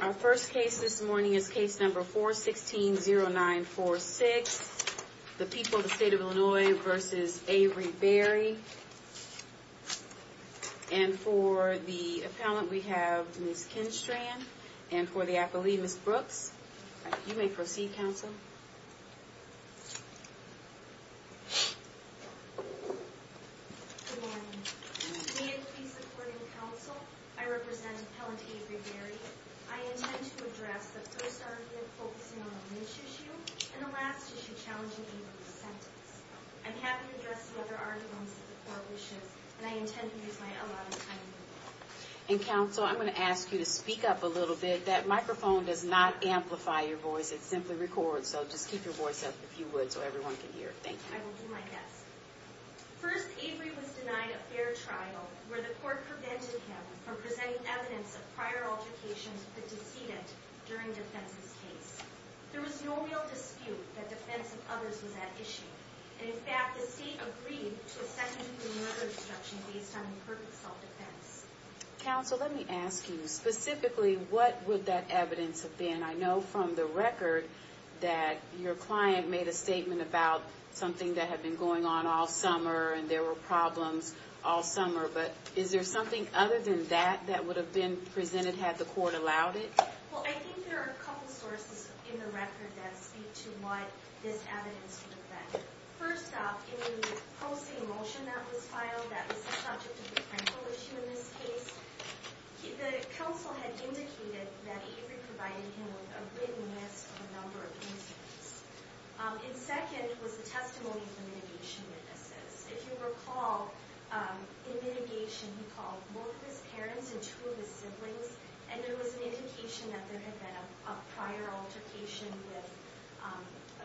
Our first case this morning is case number 416-0946. The people of the state of Illinois v. Avery Berry. And for the appellant, we have Ms. Kinstrand. And for the appellee, Ms. Brooks. You may proceed, counsel. Good morning. Today, in please supporting counsel, I represent appellant Avery Berry. I intend to address the first argument focusing on the race issue, and the last issue challenging Avery's sentence. I'm happy to address some other arguments that the court will shift, and I intend to use my allotted time. And, counsel, I'm going to ask you to speak up a little bit. That microphone does not amplify your voice. It simply records, so just keep your voice up if you would so everyone can hear. Thank you. I will do my best. First, Avery was denied a fair trial, where the court prevented him from presenting evidence of prior altercations that deceded during defense's case. There was no real dispute that defense of others was at issue. And, in fact, the state agreed to a second pre-murder instruction based on imperfect self-defense. Counsel, let me ask you. Specifically, what would that evidence have been? I know from the record that your client made a statement about something that had been going on all summer, and there were problems all summer. But is there something other than that that would have been presented had the court allowed it? Well, I think there are a couple sources in the record that speak to what this evidence would have been. First off, in the pro se motion that was filed that was the subject of a parental issue in this case, the counsel had indicated that Avery provided him with a written list of a number of incidents. And second was the testimony of the mitigation witnesses. If you recall, in mitigation, he called both his parents and two of his siblings, and there was an indication that there had been a prior altercation with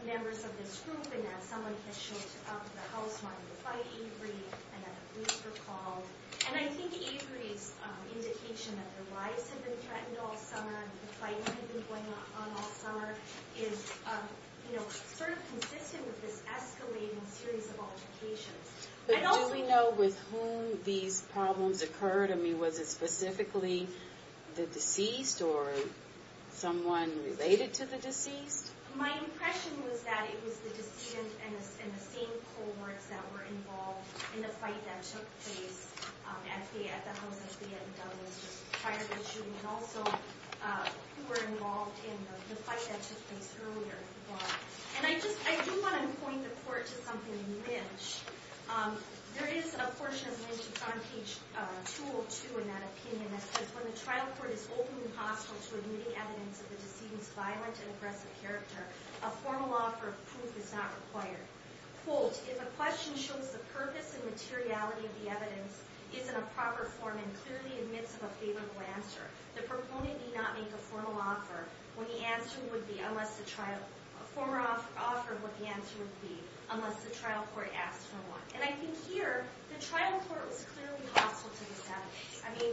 members of this group, and that someone had showed up at the house wanting to fight Avery, and that the police were called. And I think Avery's indication that their lives had been threatened all summer, and that the fighting had been going on all summer, is sort of consistent with this escalating series of altercations. But do we know with whom these problems occurred? I mean, was it specifically the deceased, or someone related to the deceased? My impression was that it was the deceased and the same cohorts that were involved in the fight that took place at the house prior to the shooting, and also who were involved in the fight that took place earlier. And I do want to point the court to something in Lynch. There is a portion of Lynch that's on page 202 in that opinion that says, When the trial court is open and hostile to admitting evidence of the deceased's violent and aggressive character, a formal offer of proof is not required. Quote, If a question shows the purpose and materiality of the evidence is in a proper form and clearly admits of a favorable answer, the proponent need not make a formal offer when the answer would be, unless the trial, a formal offer would be, unless the trial court asks for one. And I think here, the trial court was clearly hostile to this evidence. I mean,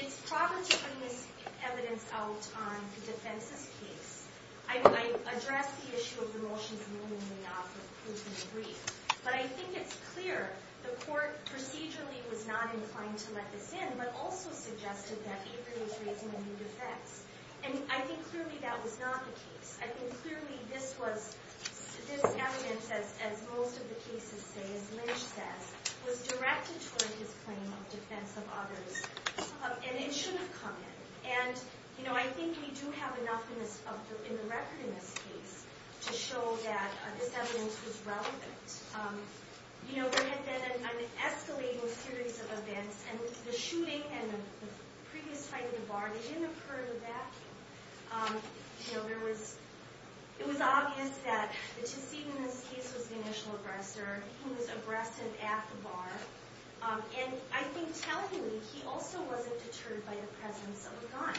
it's proper to bring this evidence out on the defense's case. I mean, I address the issue of the motions moving the offer of proof in the brief. But I think it's clear, the court procedurally was not inclined to let this in, but also suggested that Avery is raising a new defense. And I think clearly that was not the case. I think clearly this was, this evidence, as most of the cases say, as Lynch says, was directed toward his claim of defense of others. And it should have come in. And, you know, I think we do have enough in the record in this case to show that this evidence was relevant. You know, there had been an escalating series of events. And the shooting and the previous fight in the bar, they didn't occur in a vacuum. You know, there was, it was obvious that the two seat in this case was the initial aggressor. He was aggressive at the bar. And I think tellingly, he also wasn't deterred by the presence of a gun.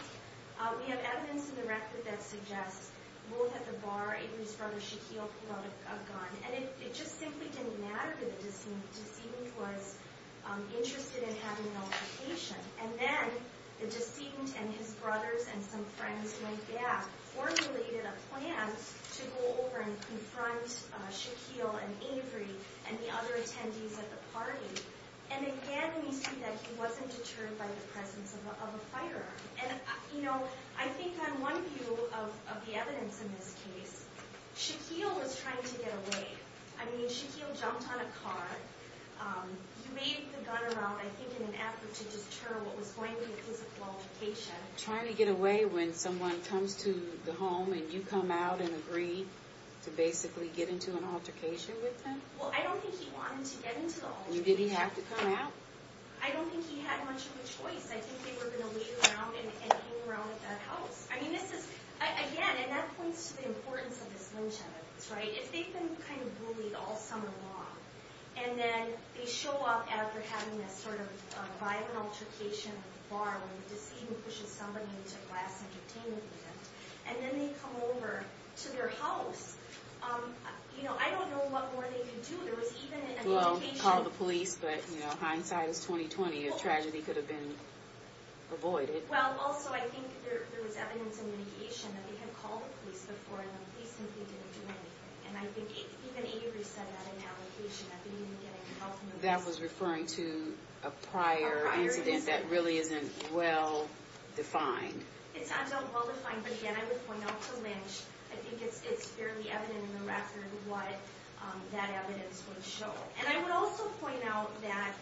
We have evidence in the record that suggests both at the bar, Avery's brother, Shaquille, pulled out a gun. And it just simply didn't matter to the decedent. The decedent was interested in having an altercation. And then the decedent and his brothers and some friends went back, formulated a plan to go over and confront Shaquille and Avery and the other attendees at the party. And again, we see that he wasn't deterred by the presence of a firearm. And, you know, I think on one view of the evidence in this case, Shaquille was trying to get away. I mean, Shaquille jumped on a car. You made the gun around, I think, in an effort to deter what was going to be a physical altercation. Trying to get away when someone comes to the home and you come out and agree to basically get into an altercation with them? Well, I don't think he wanted to get into the altercation. Did he have to come out? I don't think he had much of a choice. I think they were going to leave him out and hang around at that house. I mean, this is, again, and that points to the importance of this lynch evidence, right? If they've been kind of bullied all summer long, and then they show up after having this sort of violent altercation at the bar when the decedent pushes somebody into a glass entertainment event, and then they come over to their house, you know, I don't know what more they could do. There was even an indication- Well, call the police, but, you know, hindsight is 20-20. A tragedy could have been avoided. Well, also, I think there was evidence in mitigation that they had called the police before, and the police simply didn't do anything. And I think even Avery said that in that location, that they didn't get any help from the police. That was referring to a prior incident that really isn't well-defined. It sounds unwell-defined, but, again, I would point out the lynch. I think it's fairly evident in the record what that evidence would show. And I would also point out that,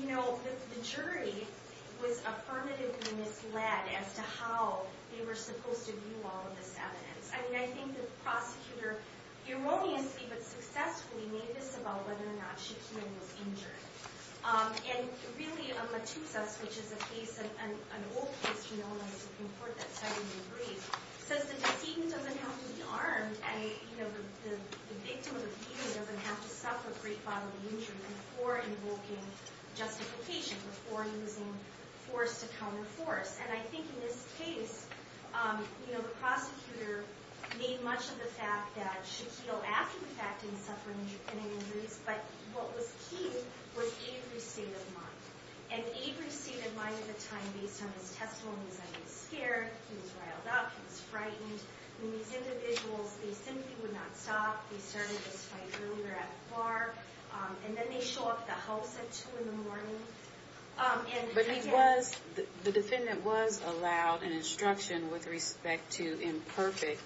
you know, the jury was affirmatively misled as to how they were supposed to view all of this evidence. I mean, I think the prosecutor erroneously, but successfully, made this about whether or not Shaquille was injured. And, really, a matusas, which is a case, an old case, you know, in the Supreme Court that's having a brief, says the decedent doesn't have to be armed, and, you know, the victim of the beating doesn't have to suffer a great bodily injury before invoking justification. Before using force to counter force. And I think in this case, you know, the prosecutor made much of the fact that Shaquille, after the fact, didn't suffer any injuries. But, what was key was Avery's state of mind. And Avery's state of mind at the time, based on his testimony, was that he was scared, he was riled up, he was frightened. And these individuals, they simply would not stop. They started this fight earlier at the bar. And then they show up at the house at two in the morning. But he was, the defendant was allowed an instruction with respect to imperfect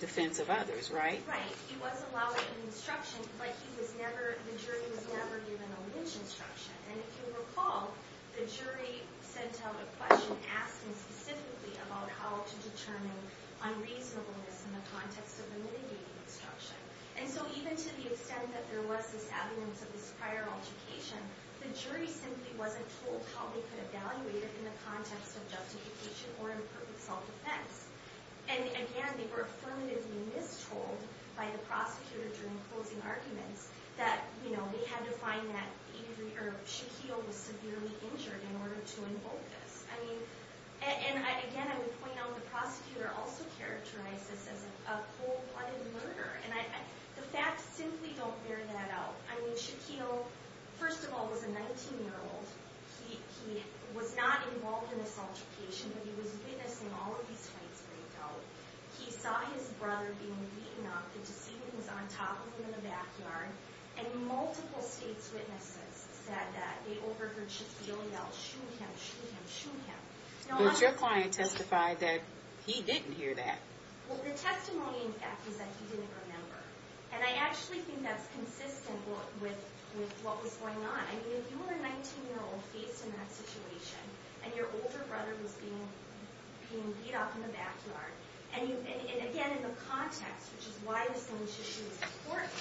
defense of others, right? Right. He was allowed an instruction, but he was never, the jury was never given a lynch instruction. And if you recall, the jury sent out a question asking specifically about how to determine unreasonableness in the context of the mitigating instruction. And so even to the extent that there was this evidence of this prior altercation, the jury simply wasn't told how they could evaluate it in the context of justification or imperfect self-defense. And again, they were affirmatively mistold by the prosecutor during closing arguments that, you know, they had to find that Avery, or Shaquille, was severely injured in order to invoke this. I mean, and again, I would point out the prosecutor also characterized this as a cold-blooded murder. And the facts simply don't bear that out. I mean, Shaquille, first of all, was a 19-year-old. He was not involved in this altercation, but he was witnessing all of these fights break out. He saw his brother being beaten up. The deceit was on top of him in the backyard. And multiple state's witnesses said that they overheard Shaquille yell, shoot him, shoot him, shoot him. But your client testified that he didn't hear that. Well, the testimony, in fact, is that he didn't remember. And I actually think that's consistent with what was going on. I mean, if you were a 19-year-old faced in that situation, and your older brother was being beat up in the backyard, and again, in the context, which is why this whole issue is important,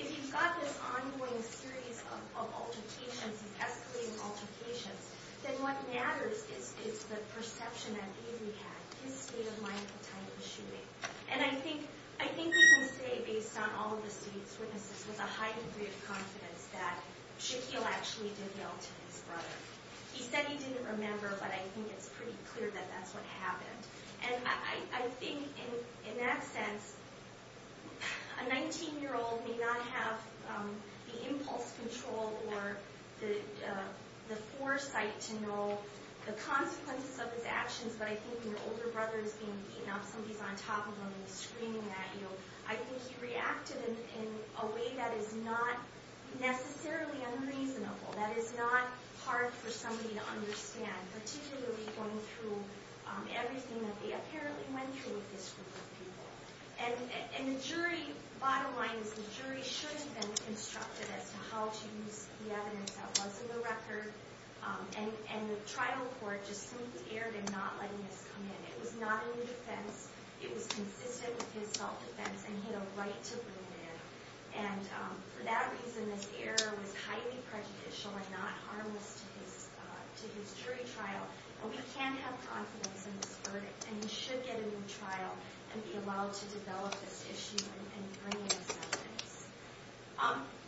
if you've got this ongoing series of altercations, of escalating altercations, then what matters is the perception that Avery had, his state of mind at the time of the shooting. And I think we can say, based on all of the state's witnesses, with a high degree of confidence, that Shaquille actually did yell to his brother. He said he didn't remember, but I think it's pretty clear that that's what happened. And I think, in that sense, a 19-year-old may not have the impulse control or the foresight to know the consequences of his actions, but I think when your older brother is being beaten up, somebody's on top of him and he's screaming at you, I think he reacted in a way that is not necessarily unreasonable, that is not hard for somebody to understand, particularly going through everything that they apparently went through with this group of people. And the jury, bottom line is the jury should have been constructed as to how to use the evidence that was in the record, and the trial court just simply erred in not letting this come in. It was not a new defense. It was consistent with his self-defense, and he had a right to bring it in. And for that reason, this error was highly prejudicial and not harmless to his jury trial. But we can have confidence in this verdict, and he should get a new trial and be allowed to develop this issue and bring in his evidence.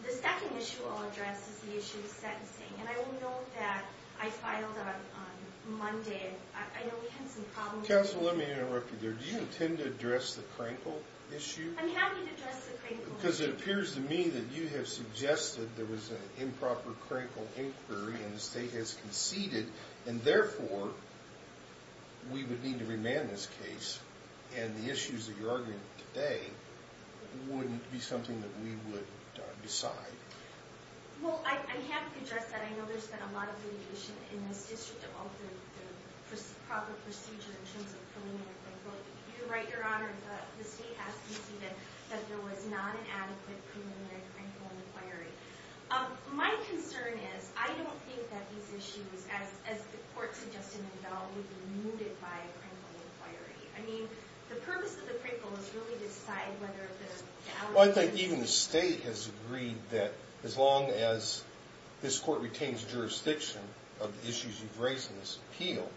The second issue I'll address is the issue of sentencing, and I will note that I filed on Monday, and I know we had some problems... Counsel, let me interrupt you there. Do you intend to address the Crankle issue? I'm happy to address the Crankle issue. Because it appears to me that you have suggested there was an improper Crankle inquiry and the state has conceded, and therefore we would need to remand this case, and the issues that you're arguing today wouldn't be something that we would decide. Well, I'm happy to address that. I know there's been a lot of litigation in this district about the proper procedure in terms of preliminary Crankle. You're right, Your Honor, the state has conceded that there was not an adequate preliminary Crankle inquiry. My concern is, I don't think that these issues, as the court suggested in Bell, would be mooted by a Crankle inquiry. I mean, the purpose of the Crankle is really to decide whether the... Well, I think even the state has agreed that as long as this court retains jurisdiction of the issues you've raised in this appeal,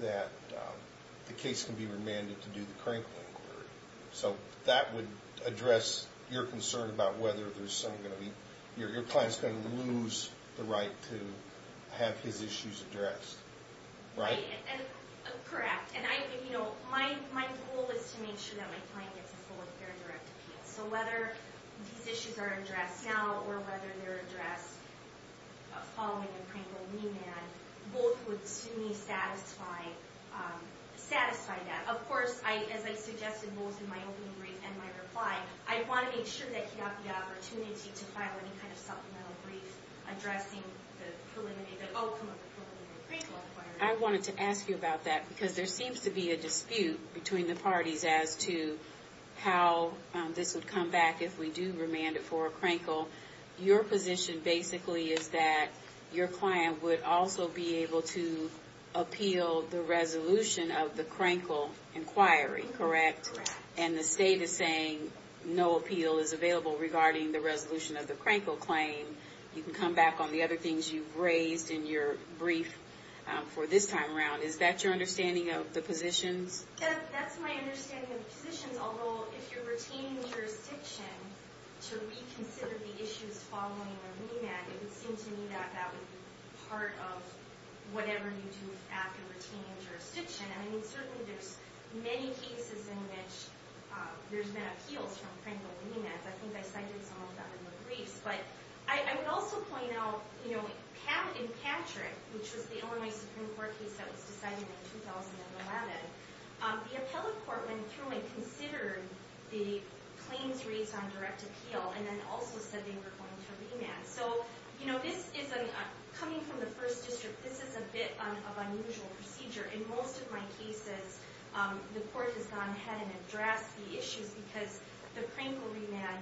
that the case can be remanded to do the Crankle inquiry. So that would address your concern about whether your client's going to lose the right to have his issues addressed. Right? Correct. And my goal is to make sure that my client gets a full and fair and direct appeal. So whether these issues are addressed now, or whether they're addressed following a Crankle remand, both would, to me, satisfy that. Of course, as I suggested both in my opening brief and my reply, I want to make sure that he got the opportunity to file any kind of supplemental brief addressing the outcome of the preliminary Crankle inquiry. I wanted to ask you about that, because there seems to be a dispute between the parties as to how this would come back if we do remand it for a Crankle. Your position basically is that your client would also be able to appeal the resolution of the Crankle inquiry, correct? Correct. And the state is saying no appeal is available regarding the resolution of the Crankle claim. You can come back on the other things you've raised in your brief for this time around. Is that your understanding of the positions? That's my understanding of the positions, although if you're retaining jurisdiction to reconsider the issues following a remand, it would seem to me that that would be part of whatever you do after retaining jurisdiction. I mean, certainly there's many cases in which there's been appeals from Crankle remands. I think I cited some of that in the briefs. But I would also point out, you know, in Patrick, which was the Illinois Supreme Court case that was decided in 2011, the appellate court went through and considered the claims raised on direct appeal and then also said they were going to remand. So, you know, this is a... Coming from the First District, this is a bit of unusual procedure. In most of my cases, the court has gone ahead and addressed the issues because the Crankle remand,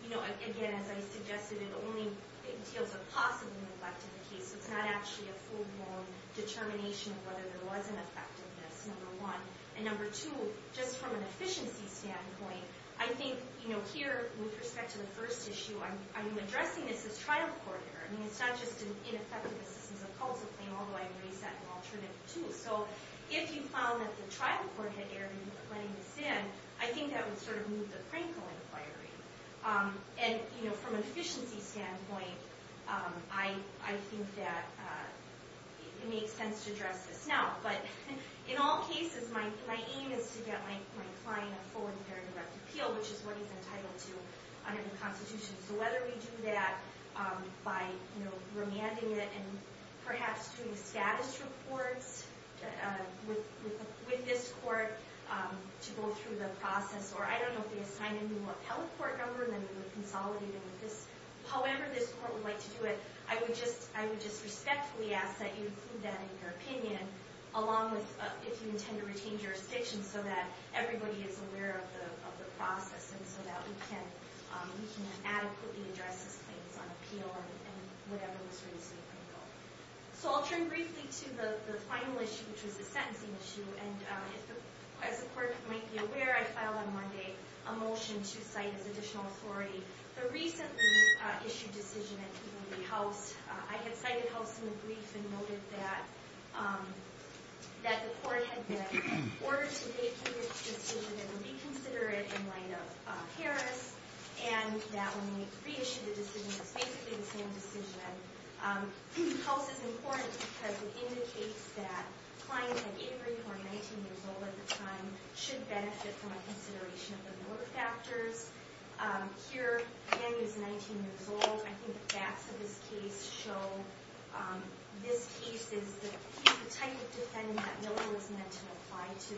you know, again, as I suggested, it only entails a possibly neglected case. It's not actually a full-blown determination of whether there was an effectiveness, number one. And number two, just from an efficiency standpoint, I think, you know, here, with respect to the first issue, I'm addressing this as trial court here. I mean, it's not just an ineffective assistance of cultural claim, although I've raised that in alternative too. So if you found that the trial court had erred in letting this in, I think that would sort of move the Crankle inquiry. And, you know, from an efficiency standpoint, I think that it makes sense to address this now. But in all cases, my aim is to get my client a full and fair direct appeal, which is what he's entitled to under the Constitution. So whether we do that by, you know, remanding it and perhaps doing status reports with this court to go through the process, or I don't know if they assign a new appellate court number and then we would consolidate it with this. However this court would like to do it, I would just respectfully ask that you include that in your opinion, along with if you intend to retain jurisdiction so that everybody is aware of the process and so that we can adequately address his claims on appeal and whatever was raised in the Crankle. So I'll turn briefly to the final issue, which was the sentencing issue. And as the court might be aware, I filed on Monday a motion to cite as additional authority the recently issued decision at Peabody House. I had cited House in the brief and noted that the court had been ordered to vacate the decision and reconsider it in light of Harris and that when we reissued the decision it was basically the same decision. House is important because it indicates that clients like Avery, who are 19 years old at the time, should benefit from a consideration of the Miller factors. Here, again, he was 19 years old. I think the facts of his case show this case is the type of defendant that Miller was meant to apply to.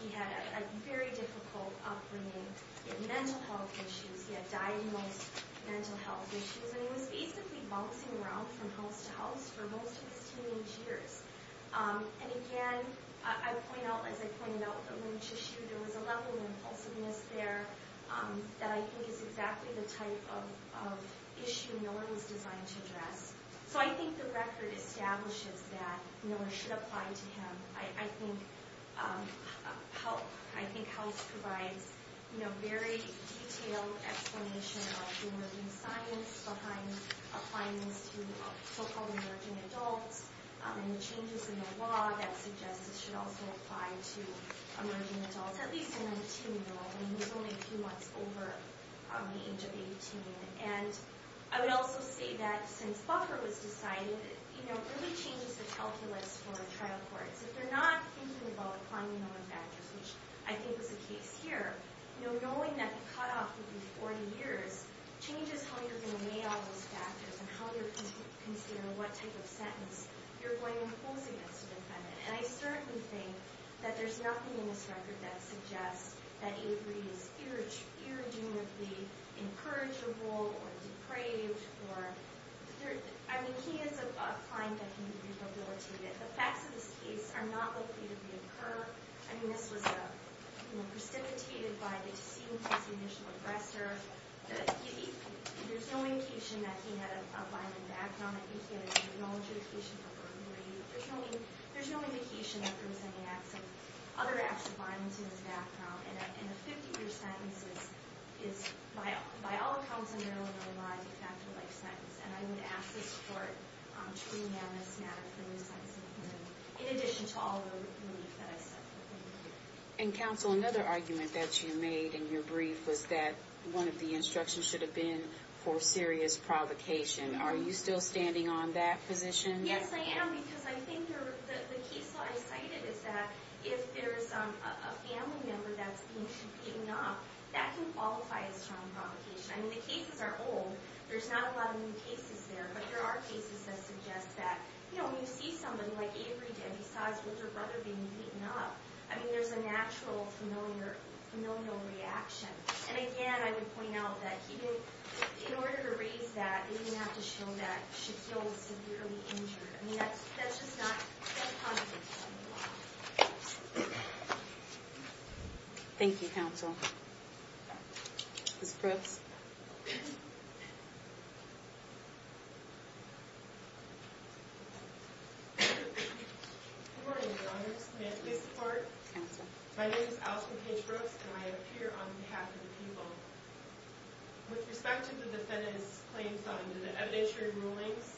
He had a very difficult upbringing. He had mental health issues. He had diagnosed mental health issues. And he was basically bouncing around from house to house for most of his teenage years. And again, as I pointed out with the Lynch issue, there was a level of impulsiveness there. That I think is exactly the type of issue Miller was designed to address. So I think the record establishes that Miller should apply to him. I think House provides a very detailed explanation of emerging science behind applying this to so-called emerging adults and the changes in the law that suggest it should also apply to emerging adults, at least a 19-year-old. And he was only a few months over the age of 18. And I would also say that since Buffer was decided, it really changes the calculus for trial courts. If they're not thinking about applying the Miller factors, which I think was the case here, knowing that the cutoff would be 40 years changes how you're going to weigh all those factors and how you're going to consider what type of sentence you're going to impose against a defendant. And I certainly think that there's nothing in this record that suggests that Avery is irredeemably incorrigible or depraved or... I mean, he is a client that can be rehabilitated. The facts of this case are not likely to reoccur. I mean, this was precipitated by the decedent as the initial aggressor. There's no indication that he had a violent background. I think he had a technological occasion for burglary. There's no indication that there was any other acts of violence in his background. And a 50-year sentence is, by all accounts, a narrow and unreliable factor-of-life sentence. And I would ask the court to re-enact this matter for new sentencing in addition to all the relief that I said. And, counsel, another argument that you made in your brief was that one of the instructions should have been for serious provocation. Are you still standing on that position? Yes, I am, because I think the case law I cited is that if there's a family member that's being beaten up, that can qualify as strong provocation. I mean, the cases are old. There's not a lot of new cases there, but there are cases that suggest that, you know, when you see somebody like Avery did, he saw his older brother being beaten up, I mean, there's a natural familial reaction. And, again, I would point out that he did... In order to raise that, he didn't have to show that Shaquille was severely injured. I mean, that's just not... Thank you, counsel. Ms. Brooks? Good morning, Your Honors. May I speak to the court? Counsel. My name is Allison Paige Brooks, and I appear on behalf of the people. With respect to the defendant's claims under the evidentiary rulings,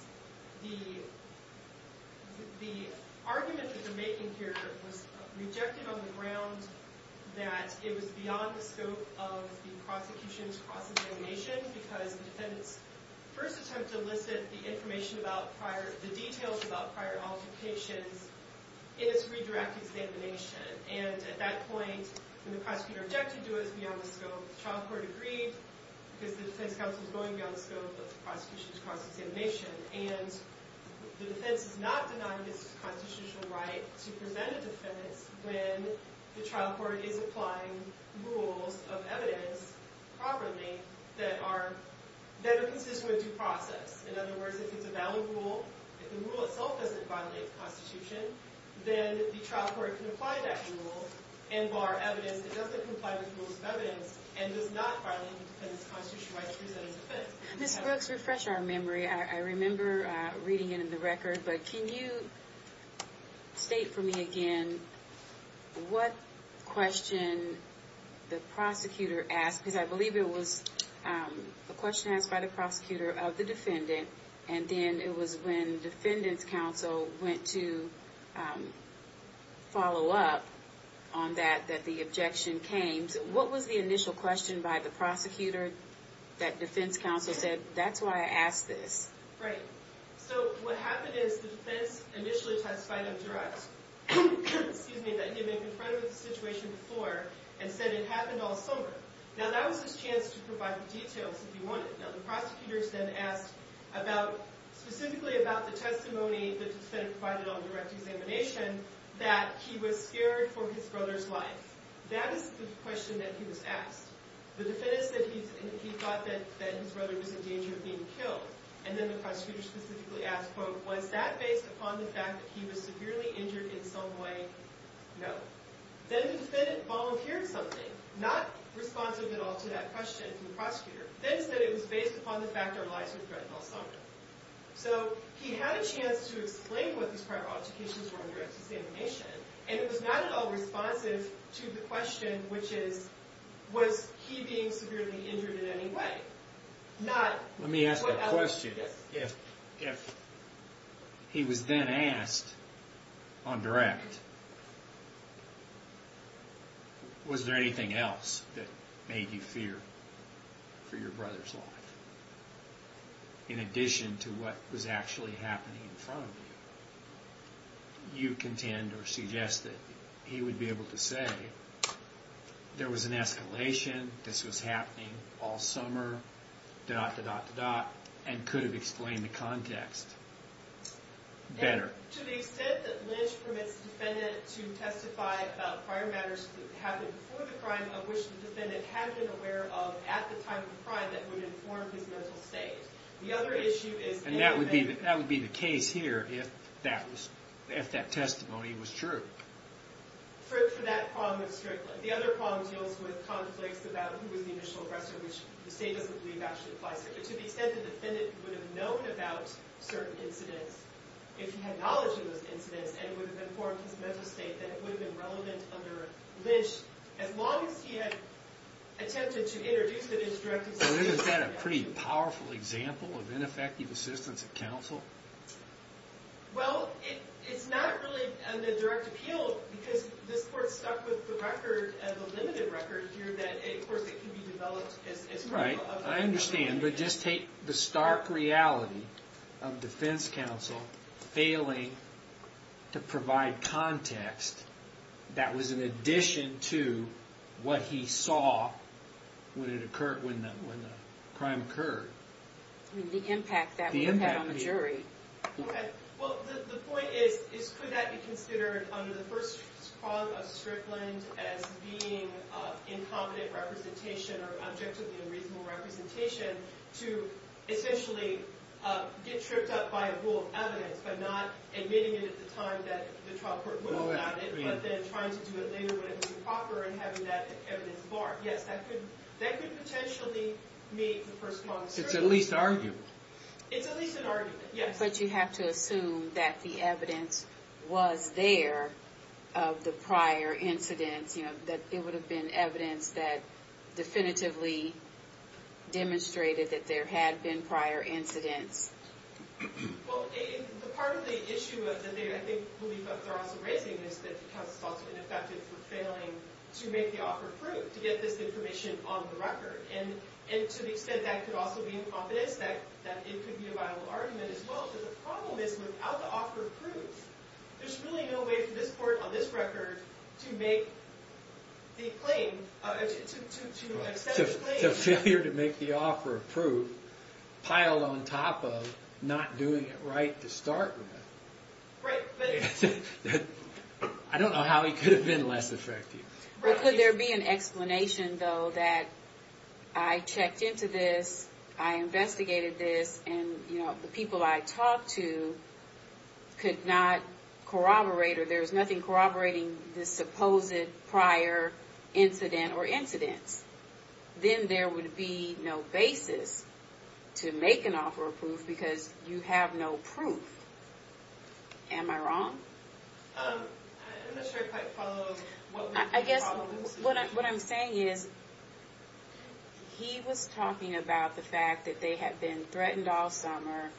the argument that they're making here was rejected on the ground that it was beyond the scope of the prosecution's cross-examination, because the defendant's first attempt to elicit the information about prior... the details about prior altercations is redirect examination. And at that point, when the prosecutor objected to it, it was beyond the scope. The trial court agreed, because the defense counsel is going beyond the scope of the prosecution's cross-examination. And the defense is not denying his constitutional right to present a defense when the trial court is applying rules of evidence properly that are consistent with due process. In other words, if it's a valid rule, if the rule itself doesn't violate the Constitution, then the trial court can apply that rule and bar evidence that doesn't comply with rules of evidence and does not violate the defense's constitutional right to present its defense. Ms. Brooks, refresh our memory. I remember reading it in the record, but can you state for me again what question the prosecutor asked? Because I believe it was a question asked by the prosecutor of the defendant, and then it was when the defendant's counsel went to follow up on that, that the objection came. What was the initial question by the prosecutor that defense counsel said, that's why I asked this? Right. So what happened is the defense initially testified in direct that he had been confronted with the situation before and said it happened all summer. Now, that was his chance to provide the details if he wanted. Now, the prosecutors then asked specifically about the testimony the defendant provided on direct examination that he was scared for his brother's life. That is the question that he was asked. The defendant said he thought that his brother was in danger of being killed, and then the prosecutor specifically asked, quote, was that based upon the fact that he was severely injured in some way? No. Then the defendant volunteered something, not responsive at all to that question from the prosecutor, then said it was based upon the fact our lives were threatened all summer. So he had a chance to explain what these prior objections were on direct examination, and it was not at all responsive to the question, which is, was he being severely injured in any way? Let me ask a question. Yes. If he was then asked on direct, was there anything else that made you fear for your brother's life in addition to what was actually happening in front of you? You contend or suggest that he would be able to say there was an escalation, this was happening all summer, dot, dot, dot, and could have explained the context better. To the extent that Lynch permits the defendant to testify about prior matters that happened before the crime of which the defendant had been aware of at the time of the crime that would inform his mental state. The other issue is... That would be the case here if that testimony was true. For that problem strictly. The other problem deals with conflicts about who was the initial aggressor, which the state doesn't believe actually applies here. But to the extent the defendant would have known about certain incidents, if he had knowledge of those incidents, and would have informed his mental state that it would have been relevant under Lynch, as long as he had attempted to introduce it into direct examination... Isn't that a pretty powerful example of ineffective assistance at counsel? Well, it's not really under direct appeal because this court stuck with the record, the limited record here, that of course it can be developed... Right, I understand. But just take the stark reality of defense counsel failing to provide context that was in addition to what he saw when the crime occurred. The impact that would have on the jury. Well, the point is, could that be considered under the first clause of Strickland as being incompetent representation or objectively unreasonable representation to essentially get tripped up by a pool of evidence but not admitting it at the time that the trial court ruled on it but then trying to do it later when it was improper and having that evidence barred. Yes, that could potentially meet the first clause of Strickland. It's at least arguable. It's at least an arguable, yes. But you have to assume that the evidence was there of the prior incidents, that it would have been evidence that definitively demonstrated that there had been prior incidents. Well, the part of the issue that I believe they're also raising is that counsel is also ineffective for failing to make the offer of proof to get this information on the record. And to the extent that could also be incompetence, that it could be a viable argument as well. But the problem is, without the offer of proof, there's really no way for this court on this record to make the claim, to extend the claim. To failure to make the offer of proof piled on top of not doing it right to start with. Right, but... I don't know how he could have been less effective. Well, could there be an explanation, though, that I checked into this, I investigated this, and the people I talked to could not corroborate, or there's nothing corroborating this supposed prior incident or incidents. Then there would be no basis to make an offer of proof because you have no proof. Am I wrong? I'm not sure I quite follow. I guess what I'm saying is, he was talking about the fact that they had been threatened all summer,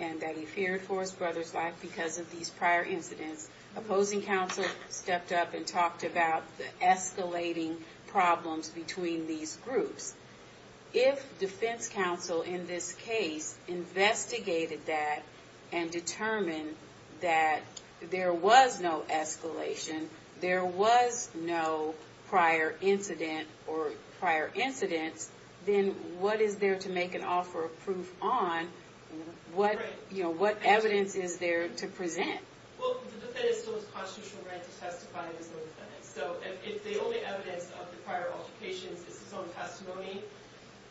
and that he feared for his brother's life because of these prior incidents. Opposing counsel stepped up and talked about the escalating problems between these groups. If defense counsel in this case investigated that and determined that there was no escalation, there was no prior incident or prior incidents, then what is there to make an offer of proof on? What evidence is there to present? Well, the defendant still has constitutional right to testify against the defendant. So if the only evidence of the prior altercations is his own testimony,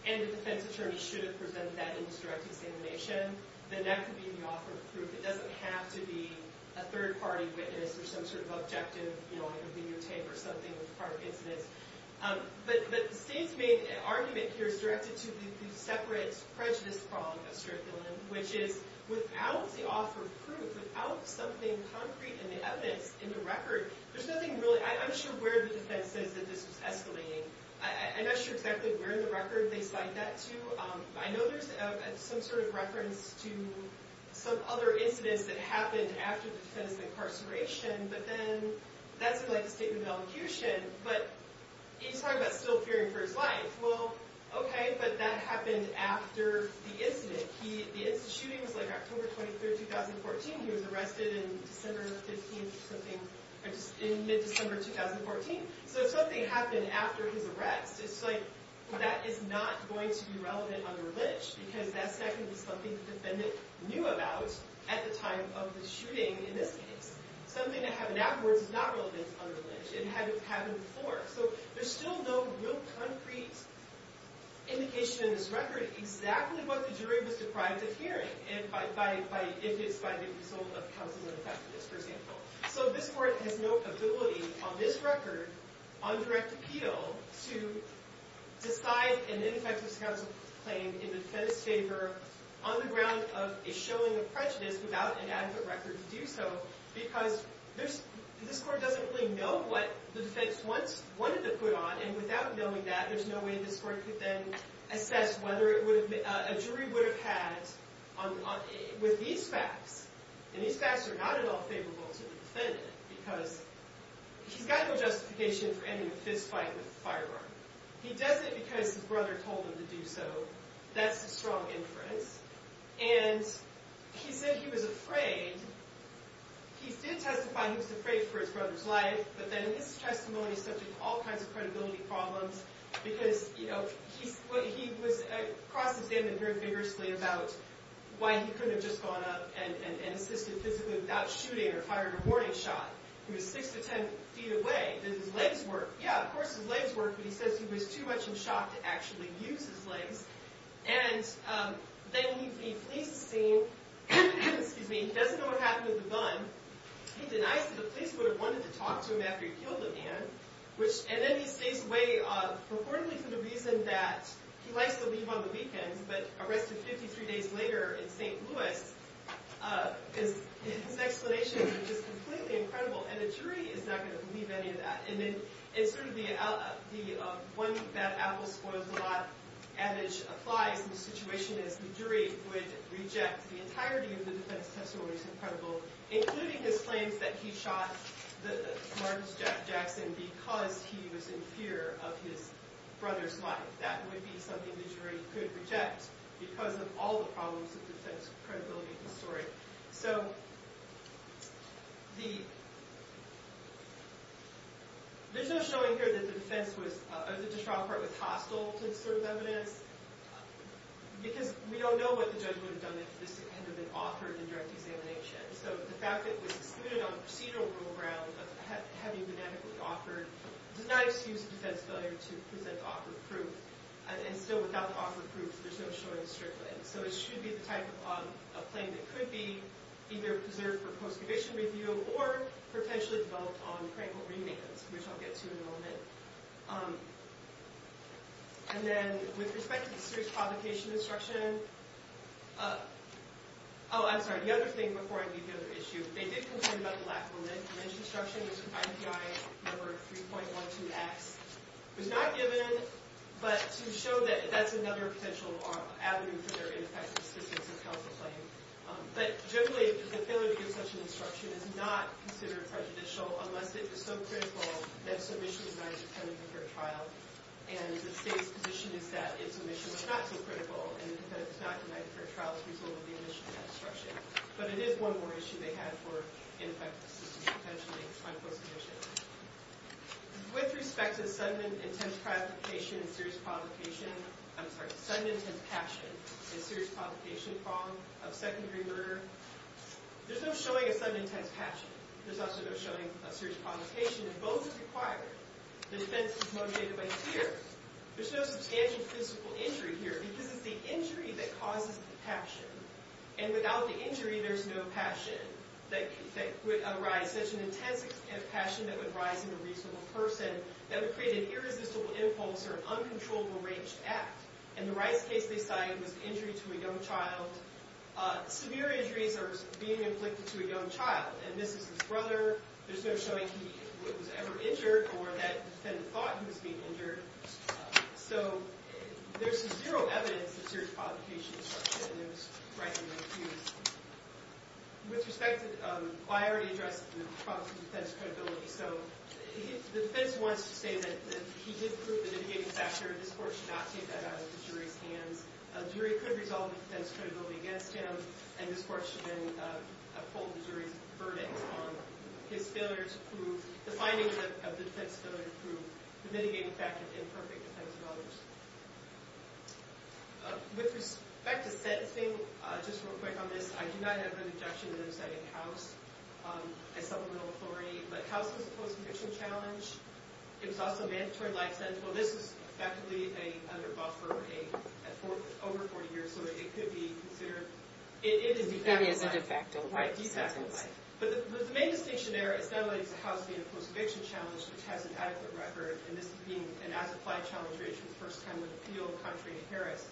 and the defense attorney should have presented that in his direct examination, then that could be the offer of proof. It doesn't have to be a third-party witness or some sort of objective videotape or something with prior incidents. But the state's main argument here is directed to the separate prejudice problem of Stuart Dillon, which is, without the offer of proof, without something concrete in the evidence, in the record, there's nothing really... I'm not sure where the defense says that this was escalating. I'm not sure exactly where in the record they cite that to. I know there's some sort of reference to some other incidents that happened after the defendant's incarceration, but then that's in, like, a statement of elocution. But he's talking about still fearing for his life. Well, okay, but that happened after the incident. The incident, the shooting was, like, October 23, 2014. He was arrested in December 15th or something, in mid-December 2014. So if something happened after his arrest, it's, like, that is not going to be relevant under lynch, because that's not going to be something the defendant knew about at the time of the shooting in this case. Something that happened afterwards is not relevant under lynch. It hadn't happened before. So there's still no real concrete indication in this record exactly what the jury was deprived of hearing, if it's by the result of counseling effectiveness, for example. So this court has no ability, on this record, on direct appeal, to decide an ineffectiveness counsel claim in the defendant's favor on the ground of a showing of prejudice without an adequate record to do so, because this court doesn't really know what the defense wanted to put on, and without knowing that, there's no way this court could then assess whether a jury would have had, with these facts, and these facts are not at all favorable to the defendant, because he's got no justification for ending a fistfight with a firearm. He does it because his brother told him to do so. That's a strong inference. And he said he was afraid. He did testify he was afraid for his brother's life, but then in his testimony, he's subject to all kinds of credibility problems, because, you know, he was... I crossed his hand and heard vigorously about why he couldn't have just gone up and assisted physically without shooting or fired a warning shot. He was 6 to 10 feet away. Did his legs work? Yeah, of course his legs worked, but he says he was too much in shock to actually use his legs. And then the police see... Excuse me. He doesn't know what happened with the gun. He denies that the police would have wanted to talk to him after he killed the man, and then he stays away, reportedly for the reason that he likes to leave on the weekends, but arrested 53 days later in St. Louis, his explanation is just completely incredible, and a jury is not going to believe any of that. And then it's sort of the one bad apple spoils the lot adage applies, and the situation is the jury would reject the entirety of the defense testimony, which is incredible, including his claims that he shot the Martin Jackson because he was in fear of his brother's life. That would be something the jury could reject because of all the problems of defense credibility in the story. So, the... There's no showing here that the defense was... or the district court was hostile to this sort of evidence, because we don't know what the judge would have done if this had been offered in direct examination. So the fact that it was excluded on a procedural rule ground of having been adequately offered does not excuse the defense failure to present the offer of proof. And still, without the offer of proof, there's no showing strictly. So it should be the type of claim that could be either preserved for post-conviction review or potentially developed on practical remands, which I'll get to in a moment. And then, with respect to the serious provocation instruction... Oh, I'm sorry. The other thing before I read the other issue. They did concern about the lack of a lineage instruction, which is IPI number 3.12X. It was not given, but to show that that's another potential avenue for their ineffective assistance and counsel claim. But generally, the failure to give such an instruction is not considered prejudicial, unless it is so critical that it's omission is not denied for a trial. And the state's position is that it's omission is not so critical and that it's not denied for a trial as a result of the omission of that instruction. But it is one more issue they had for ineffective assistance, potentially, on post-conviction. With respect to sudden intense provocation and serious provocation... I'm sorry. Sudden intense passion and serious provocation of secondary murder, there's no showing of sudden intense passion. There's also no showing of serious provocation. And both are required. The defense is motivated by tears. There's no substantial physical injury here because it's the injury that causes the passion. And without the injury, there's no passion that would arise. And if you have such an intense passion that would rise in a reasonable person, that would create an irresistible impulse or an uncontrollable rage to act. In the Rice case they cited, it was an injury to a young child. Severe injuries are being inflicted to a young child. And this is his brother. There's no showing he was ever injured or that defendant thought he was being injured. So there's zero evidence of serious provocation.... With respect to... I already addressed the problem of defense credibility. So the defense wants to say that he did prove the mitigating factor. This court should not take that out of the jury's hands. A jury could resolve the defense credibility against him. And this court should then uphold the jury's verdict on his failure to prove... the findings of the defense failure to prove the mitigating factor of imperfect defense of others. With respect to sentencing, just real quick on this, I do not have an objection to them citing House as supplemental authority. But House is a post-eviction challenge. It was also a mandatory life sentence. Well, this was effectively under buffer for over 40 years, so it could be considered... It is a de facto life sentence. But the main distinction there is not only is House being a post-eviction challenge, which has an adequate record, and this being an as-applied challenge contrary to Harris,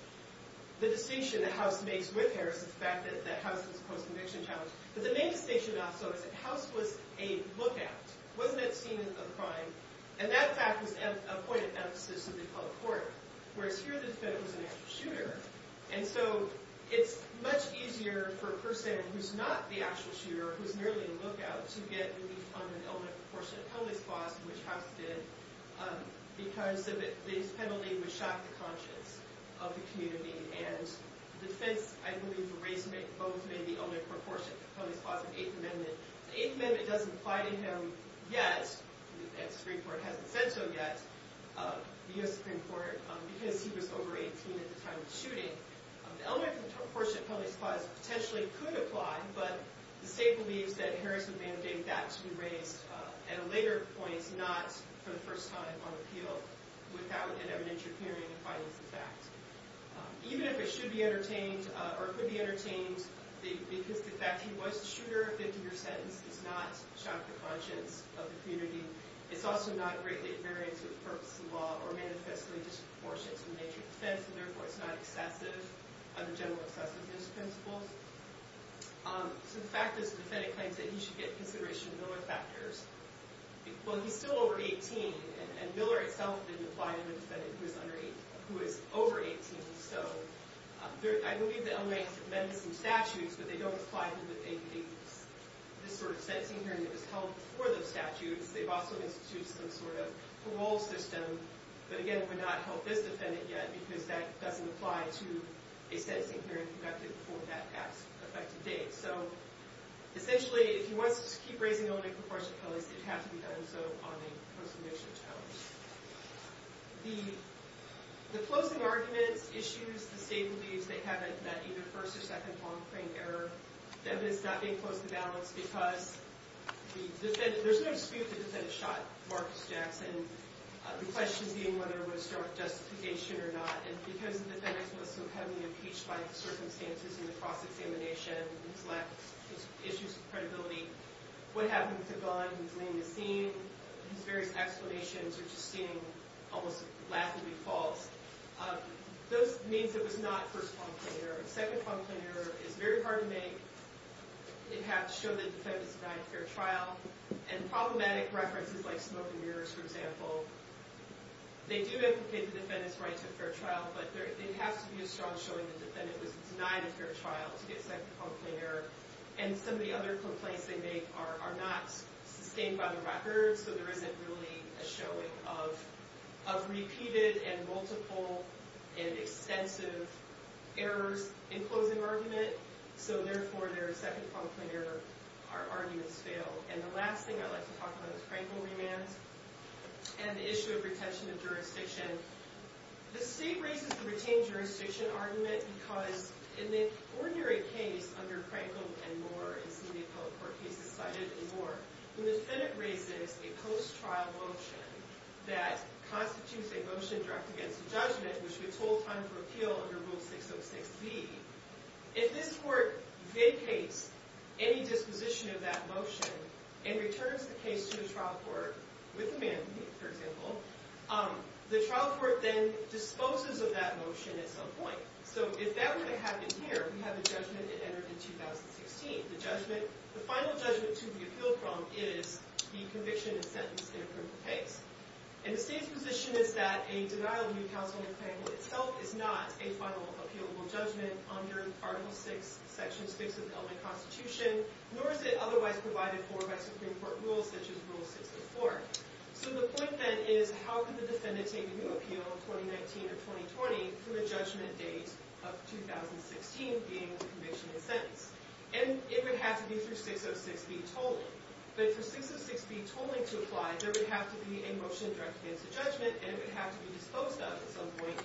the distinction that House makes with Harris is the fact that House is a post-eviction challenge. But the main distinction, also, is that House was a lookout. Wasn't it seen as a crime? And that fact was a point of emphasis in the public court. Whereas here, the defendant was an actual shooter. And so it's much easier for a person who's not the actual shooter, who's merely a lookout, to get relief on an element proportionate to the penalty clause, which House did, because this penalty would shock the conscience of the community. And the defense, I believe, erased both the element proportionate to the penalty clause and the Eighth Amendment. The Eighth Amendment doesn't apply to him yet. The Supreme Court hasn't said so yet. The U.S. Supreme Court, because he was over 18 at the time of the shooting, the element proportionate to the penalty clause potentially could apply, but the state believes that Harris would mandate that to be raised at a later point, not for the first time on appeal, without an evidentiary period to fight against the fact. Even if it should be entertained, or could be entertained, because the fact he was the shooter, a 50-year sentence, does not shock the conscience of the community. It's also not a greatly invariant purpose in law or manifestly disproportionate to the nature of defense, and therefore it's not excessive under general excessiveness principles. So the fact is, the defendant claims that he should get consideration of Miller factors. Well, he's still over 18, and Miller itself didn't apply to the defendant who is over 18, so I believe the L.A. has amended some statutes, but they don't apply to this sort of sentencing hearing that was held before those statutes. They've also instituted some sort of parole system, but again, it would not help this defendant yet, because that doesn't apply to a sentencing hearing conducted before that past effective date. So, essentially, if he wants to just keep raising Illinois proportional penalties, they'd have to be done so on a post-conviction challenge. The closing arguments, issues, the state believes they haven't met either first or second long-frame error. The evidence is not being close to balance, because there's no dispute the defendant shot Marcus Jackson. The question being whether there was strong justification or not, and because the defendant was so heavily impeached by the circumstances in the cross-examination, his lack of issues of credibility, what happened with the gun, his name is seen, his various explanations are just seen almost laughably false. Those means it was not first long-frame error. Second long-frame error is very hard to make. It has shown the defendant's denied a fair trial, and problematic references like smoke and mirrors, for example, they do implicate the defendant's denied a fair trial, but there has to be a strong showing the defendant was denied a fair trial to get second long-frame error, and some of the other complaints they make are not sustained by the record, so there isn't really a showing of repeated and multiple and extensive errors in closing argument, so therefore their second long-frame error arguments fail. And the last thing I'd like to talk about is Frankl remands, and the issue of retention of jurisdiction. The state raises the retained jurisdiction argument because in the ordinary case under Frankl and Moore, in some of the appellate court cases cited in Moore, when the Senate raises a post-trial motion that constitutes a motion directed against the judgment, which we told time for appeal under Rule 606b, if this court vacates any disposition of that motion, and returns the case to the trial court, with a mandate, for example, the trial court then disposes of that motion at some point. So if that were to happen here, we have a judgment that entered in 2016. The final judgment to be appealed from is the conviction and sentence in a criminal case. And the state's position is that a denial of due counsel under Frankl itself is not a final appealable judgment under Article 6, Section 6 of the Elmwood Constitution, nor is it otherwise provided for by Supreme Court rules such as Rule 604. So the point then is, how can the defendant take a new appeal in 2019 or 2020 from a judgment date of 2016, being the conviction and sentence? And it would have to be through 606b totally. But for 606b totally to apply, there would have to be a motion directed against the judgment, and it would have to be disposed of at some point,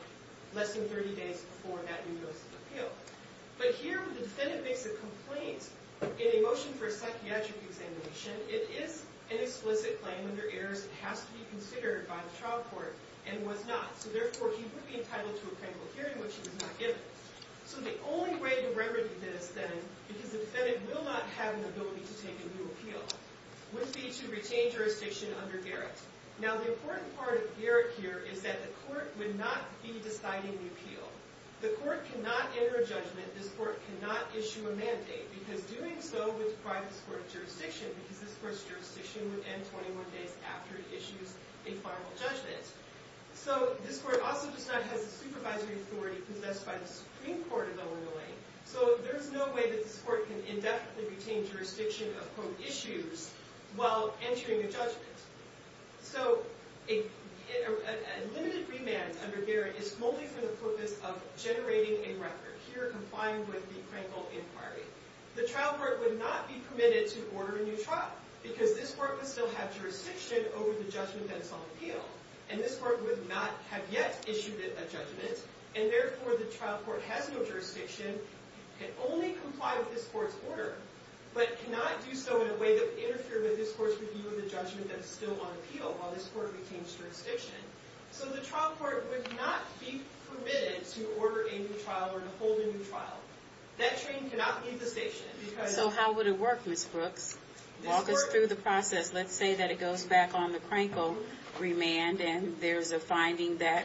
less than 30 days before that new notice of appeal. But here, the defendant makes a complaint in a motion for a psychiatric examination. It is an explicit claim under errors that has to be considered by the trial court, and was not. So therefore, he would be entitled to a criminal hearing, which he was not given. So the only way to remedy this, then, because the defendant will not have an ability to take a new appeal, would be to retain jurisdiction under Garrett. Now, the important part of Garrett here is that the court would not be deciding the appeal. The court cannot enter a judgment. This court cannot issue a mandate, because doing so would deprive this court of jurisdiction, because this court's jurisdiction would end 21 days after it issues a formal judgment. So this court also does not have the supervisory authority possessed by the Supreme Court of Illinois. So there's no way that this court can indefinitely retain jurisdiction upon issues while entering a judgment. So a limited remand under Garrett is solely for the purpose of generating a record here, complying with the Crankville Inquiry. The trial court would not be permitted to order a new trial, because this court would still have jurisdiction over the judgment that's on appeal. And this court would not have yet issued a judgment, and therefore, the trial court has no jurisdiction, can only comply with this court's order, but cannot do so in a way that would interfere with this court's review of the judgment that's still on appeal while this court retains jurisdiction. So the trial court would not be permitted to order a new trial or to hold a new trial. That train cannot leave the station. So how would it work, Ms. Brooks? Walk us through the process. Let's say that it goes back on the Crankville remand, and there's a finding that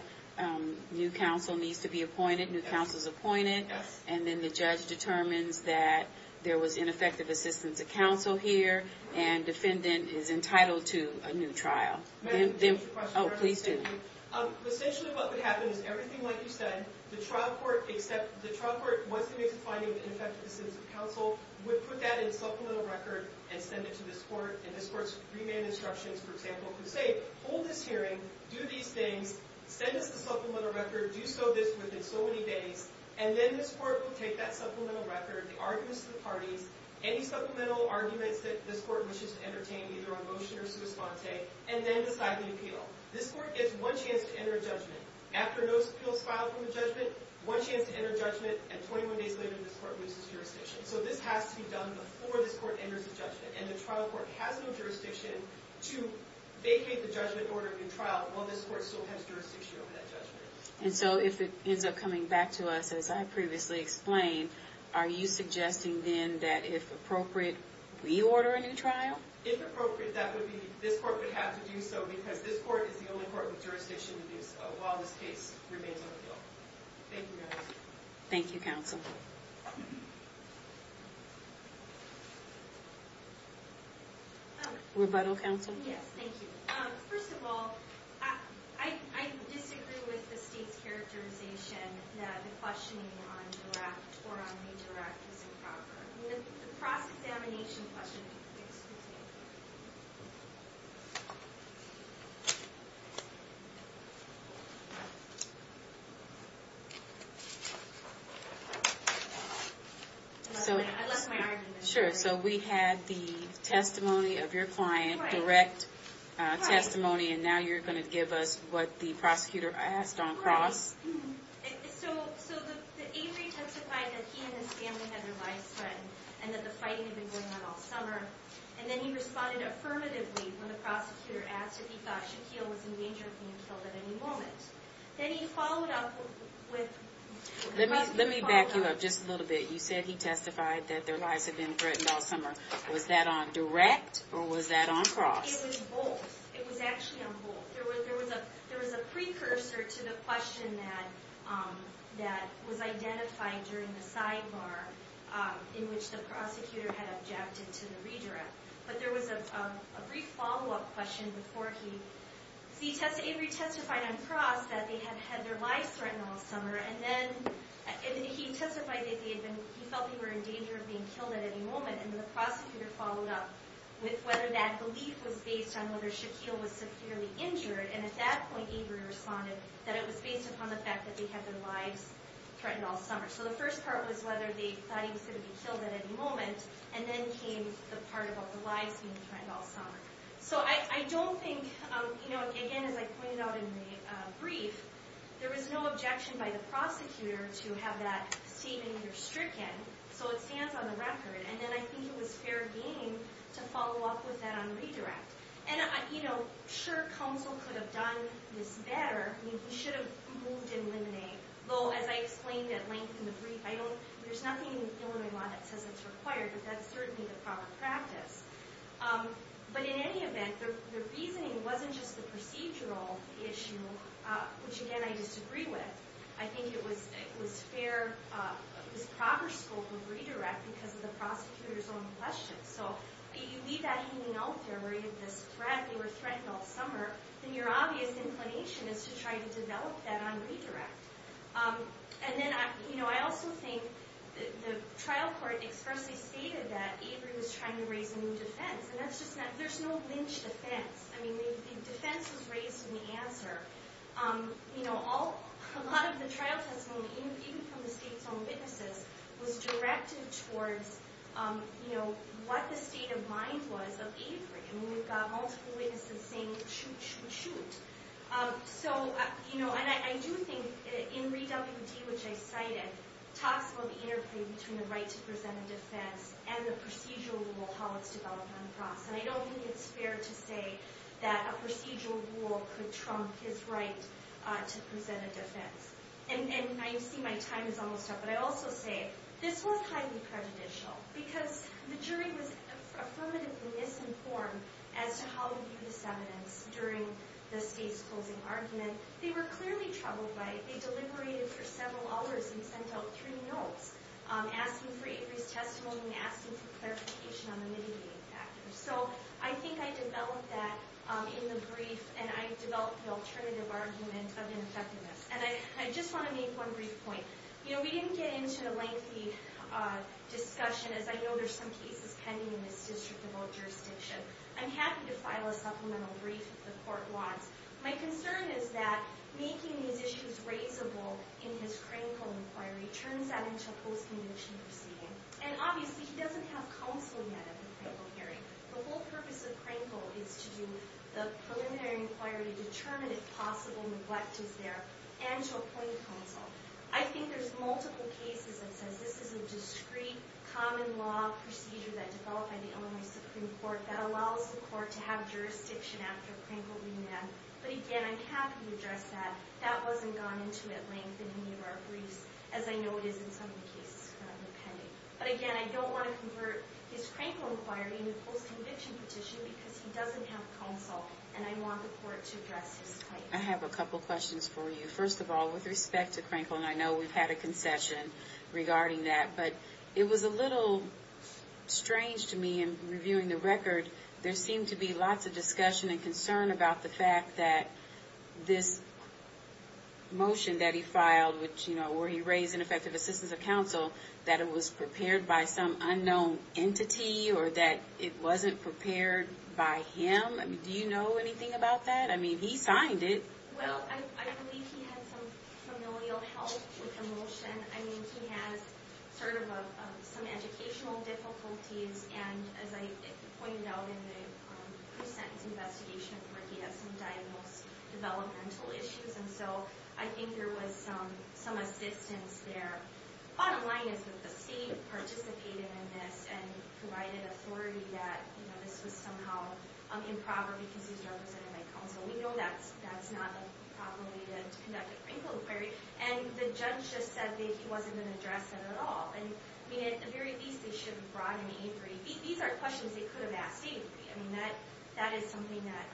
new counsel needs to be appointed, new counsel's appointed, and then the judge determines that there was ineffective assistance of counsel here, and defendant is entitled to a new trial. Oh, please do. Essentially what would happen is everything like you said, the trial court would put that in supplemental record and send it to this court, and this court's remand instructions, for example, would say, hold this hearing, do these things, send us the supplemental record, do so this within so many days, and then this court would take that supplemental record, the arguments of the parties, any supplemental arguments that this court wishes to entertain, either on motion or sui sponte, and then decide the appeal. This court gets one chance to enter a judgment. After no appeals filed from the judgment, one chance to enter a judgment, and 21 days later this court loses jurisdiction. So this has to be done before this court enters a judgment, and the trial court has no jurisdiction to vacate the judgment order in trial while this court still has jurisdiction over that judgment. And so if it ends up coming back to us as I previously explained, are you suggesting then that if appropriate, we order a new trial? If appropriate, that would be this court would have to do so because this court is the only court with jurisdiction while this case remains on appeal. Thank you. Thank you, counsel. Rebuttal, counsel? Yes, thank you. First of all, I disagree with the state's characterization that the questioning on direct or on redirect is improper. The cross-examination question that you asked. I lost my argument. Sure, so we had the testimony of your client, direct testimony, and now you're going to give us what the prosecutor asked on cross. So the Avery testified that he and his family had their lives threatened and that the fighting had been going on all summer. And then he responded affirmatively when the prosecutor asked if he thought Shaquille was in danger of being killed at any moment. Then he followed up with... Let me back you up just a little bit. You said he testified that their lives had been threatened all summer. Was that on direct or was that on cross? It was both. It was actually on both. There was a precursor to the question that was identified during the sidebar in which the prosecutor had objected to the redirect. But there was a brief follow-up question before he... See, Avery testified on cross that they had had their lives threatened all summer and then he testified that he felt they were in danger of being killed at any moment and the prosecutor followed up with whether that belief was based on whether Shaquille was severely injured and at that point Avery responded that it was based upon the fact that they had their lives threatened all summer. So the first part was whether they thought he was going to be killed at any moment and then came the part about the lives being threatened all summer. So I don't think... Again, as I pointed out in the brief, there was no objection by the prosecutor to have that statement either stricken. So it stands on the record. And then I think it was fair game to follow up with that on redirect. Sure, counsel could have done this better. He should have moved and eliminated. Though, as I explained at length in the brief, I don't... There's nothing in the Illinois law that says it's required but that's certainly the proper practice. But in any event, the reasoning wasn't just the procedural issue, which again, I disagree with. I think it was fair... This proper scope of redirect because of the prosecutor's own questions. So you leave that hanging out there where you have this threat, they were threatened all summer, then your obvious inclination is to try to develop that on redirect. And then I also think the trial court expressly stated that Avery was trying to raise a new defense. And that's just not... There's no lynch defense. I mean, the defense was raised in the answer. A lot of the trial testimony, even from the state's own witnesses, was directed towards what the state of mind was of Avery. I mean, we've got multiple witnesses saying, shoot, shoot, shoot. So, you know, and I do think in ReWD, which I cited, talks about the interplay between the right to present a defense and the procedural rule, how it's developed on the cross. And I don't think it's fair to say that a procedural rule could trump his right to present a defense. And I see my time is almost up, but I also say this was highly prejudicial because the jury was affirmatively misinformed as to how to view this evidence during the state's closing argument. They were clearly troubled by it. They deliberated for several hours and sent out three notes asking for Avery's testimony and asking for clarification on the mitigating factors. So, I think I developed that in the brief, and I developed the alternative argument of ineffectiveness. And I just want to make one brief point. You know, we didn't get into a lengthy discussion, as I know there's some cases pending in this district about jurisdiction. I'm happy to file a supplemental brief if the court wants. My concern is that making these issues raisable in his Krenkel inquiry turns out into a post-condition proceeding. And obviously, he doesn't have counsel yet at the Krenkel hearing. The whole purpose of Krenkel is to do the preliminary inquiry to determine if possible neglect is there, and to appoint counsel. I think there's multiple cases that says this is a discrete common law procedure that developed by the Illinois Supreme Court that allows the court to have jurisdiction after Krenkel remand. But again, I'm happy to address that. That wasn't gone into at length in any of our briefs, as I know it is in some of the cases currently pending. But again, I don't want to convert his Krenkel inquiry into a post-conviction petition because he doesn't have counsel, and I want the court to address his case. I have a couple questions for you. First of all, with respect to Krenkel, and I know we've had a concession regarding that, but it was a little strange to me, in reviewing the record, there seemed to be lots of discussion and concern about the fact that this motion that he filed, which, you know, where he raised ineffective assistance of counsel, that it was prepared by some unknown entity, or that it wasn't prepared by him? Do you know anything about that? I mean, he signed it. Well, I believe he had some familial health with the motion. I mean, he has sort of some educational difficulties, and as I pointed out in the pre-sentence investigation report, he had some developmental issues, and so I think there was some assistance there. Bottom line is that the state participated in this and provided authority that this was somehow improper because he's represented by counsel. We know that's not a proper way to conduct a Crankle inquiry, and the judge just said that he wasn't going to address it at all. And, I mean, at the very least, they should have brought an A3. These are questions they could have asked A3. I mean, that is something that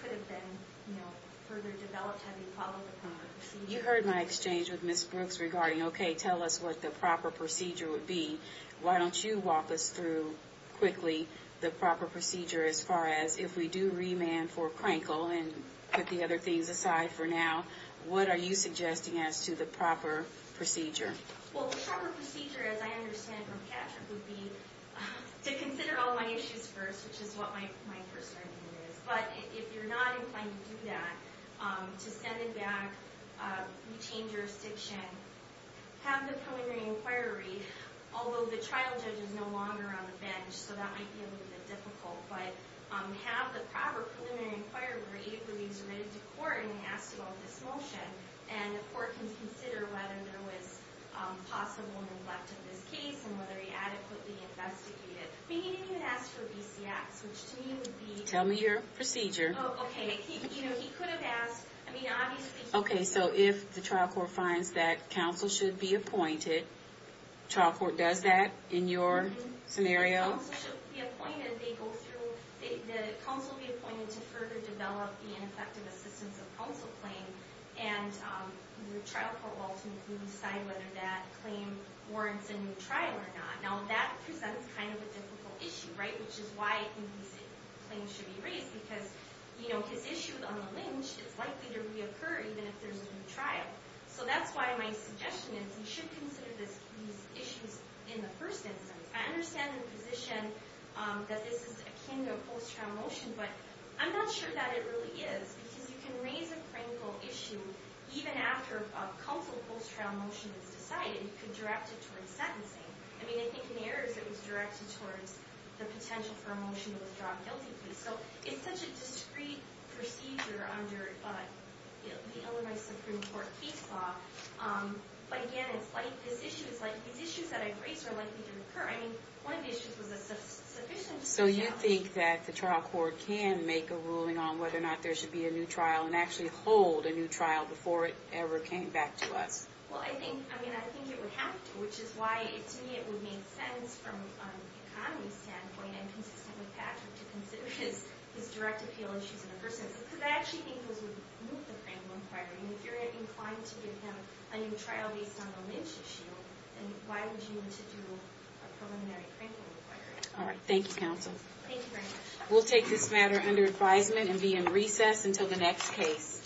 could have been, you know, further developed had they followed the proper procedure. You heard my exchange with Ms. Brooks regarding, okay, tell us what the proper procedure would be. Why don't you walk us through quickly the proper procedure as far as if we do remand for Crankle and put the other things aside for now. What are you suggesting as to the proper procedure? Well, the proper procedure as I understand from Patrick would be to consider all my issues first, which is what my first argument is, but if you're not inclined to do that, to send it back, retain jurisdiction, have the preliminary inquiry, although the trial judge is no longer on the bench, so that might be a little bit difficult, but have the proper preliminary inquiry where A3 is ready to court and asks about this motion, and the court can consider whether there was possible neglect of this case and whether he adequately investigated it. He didn't even ask for BCX, which to me would be... Tell me your procedure. Oh, okay. You know, he could have asked, I mean, obviously... Okay, so if the trial court finds that counsel should be appointed, trial court does that in your scenario? Counsel should be appointed to further develop the ineffective assistance of counsel claim, and the trial court will ultimately decide whether that claim warrants a new trial or not. Now, that presents kind of a difficult issue, right? Which is why I think these claims should be raised, because his issue on the lynch is likely to reoccur even if there's a new trial. So that's why my suggestion is you should consider these issues in the first instance. I understand the position that this is akin to a post-trial motion, but I'm not sure that it really is, because you can raise a critical issue even after a counsel post-trial motion is decided. You could direct it towards sentencing. I mean, I think in Ayers, it was directed towards the potential for a motion to withdraw a guilty plea. So it's such a discrete procedure under the Illinois Supreme Court case law, but again, it's like this issue is like... These issues that I've raised are likely to recur. I mean, one of the issues was a sufficient challenge. So you think that the trial court can make a ruling on whether or not there should be a new trial, and actually hold a new trial before it ever came back to us? Well, I think it would have to, which is why to me it would make sense from an economy standpoint, and consistent with Patrick, to consider his direct appeal issues in the first instance. Because I actually think those would move the claim one prior. I mean, if you're inclined to give him a new trial based on the lynch issue, then why would you want to do a preliminary claim one prior? Alright, thank you counsel. Thank you very much. We'll take this matter under advisement and be in recess until the next case.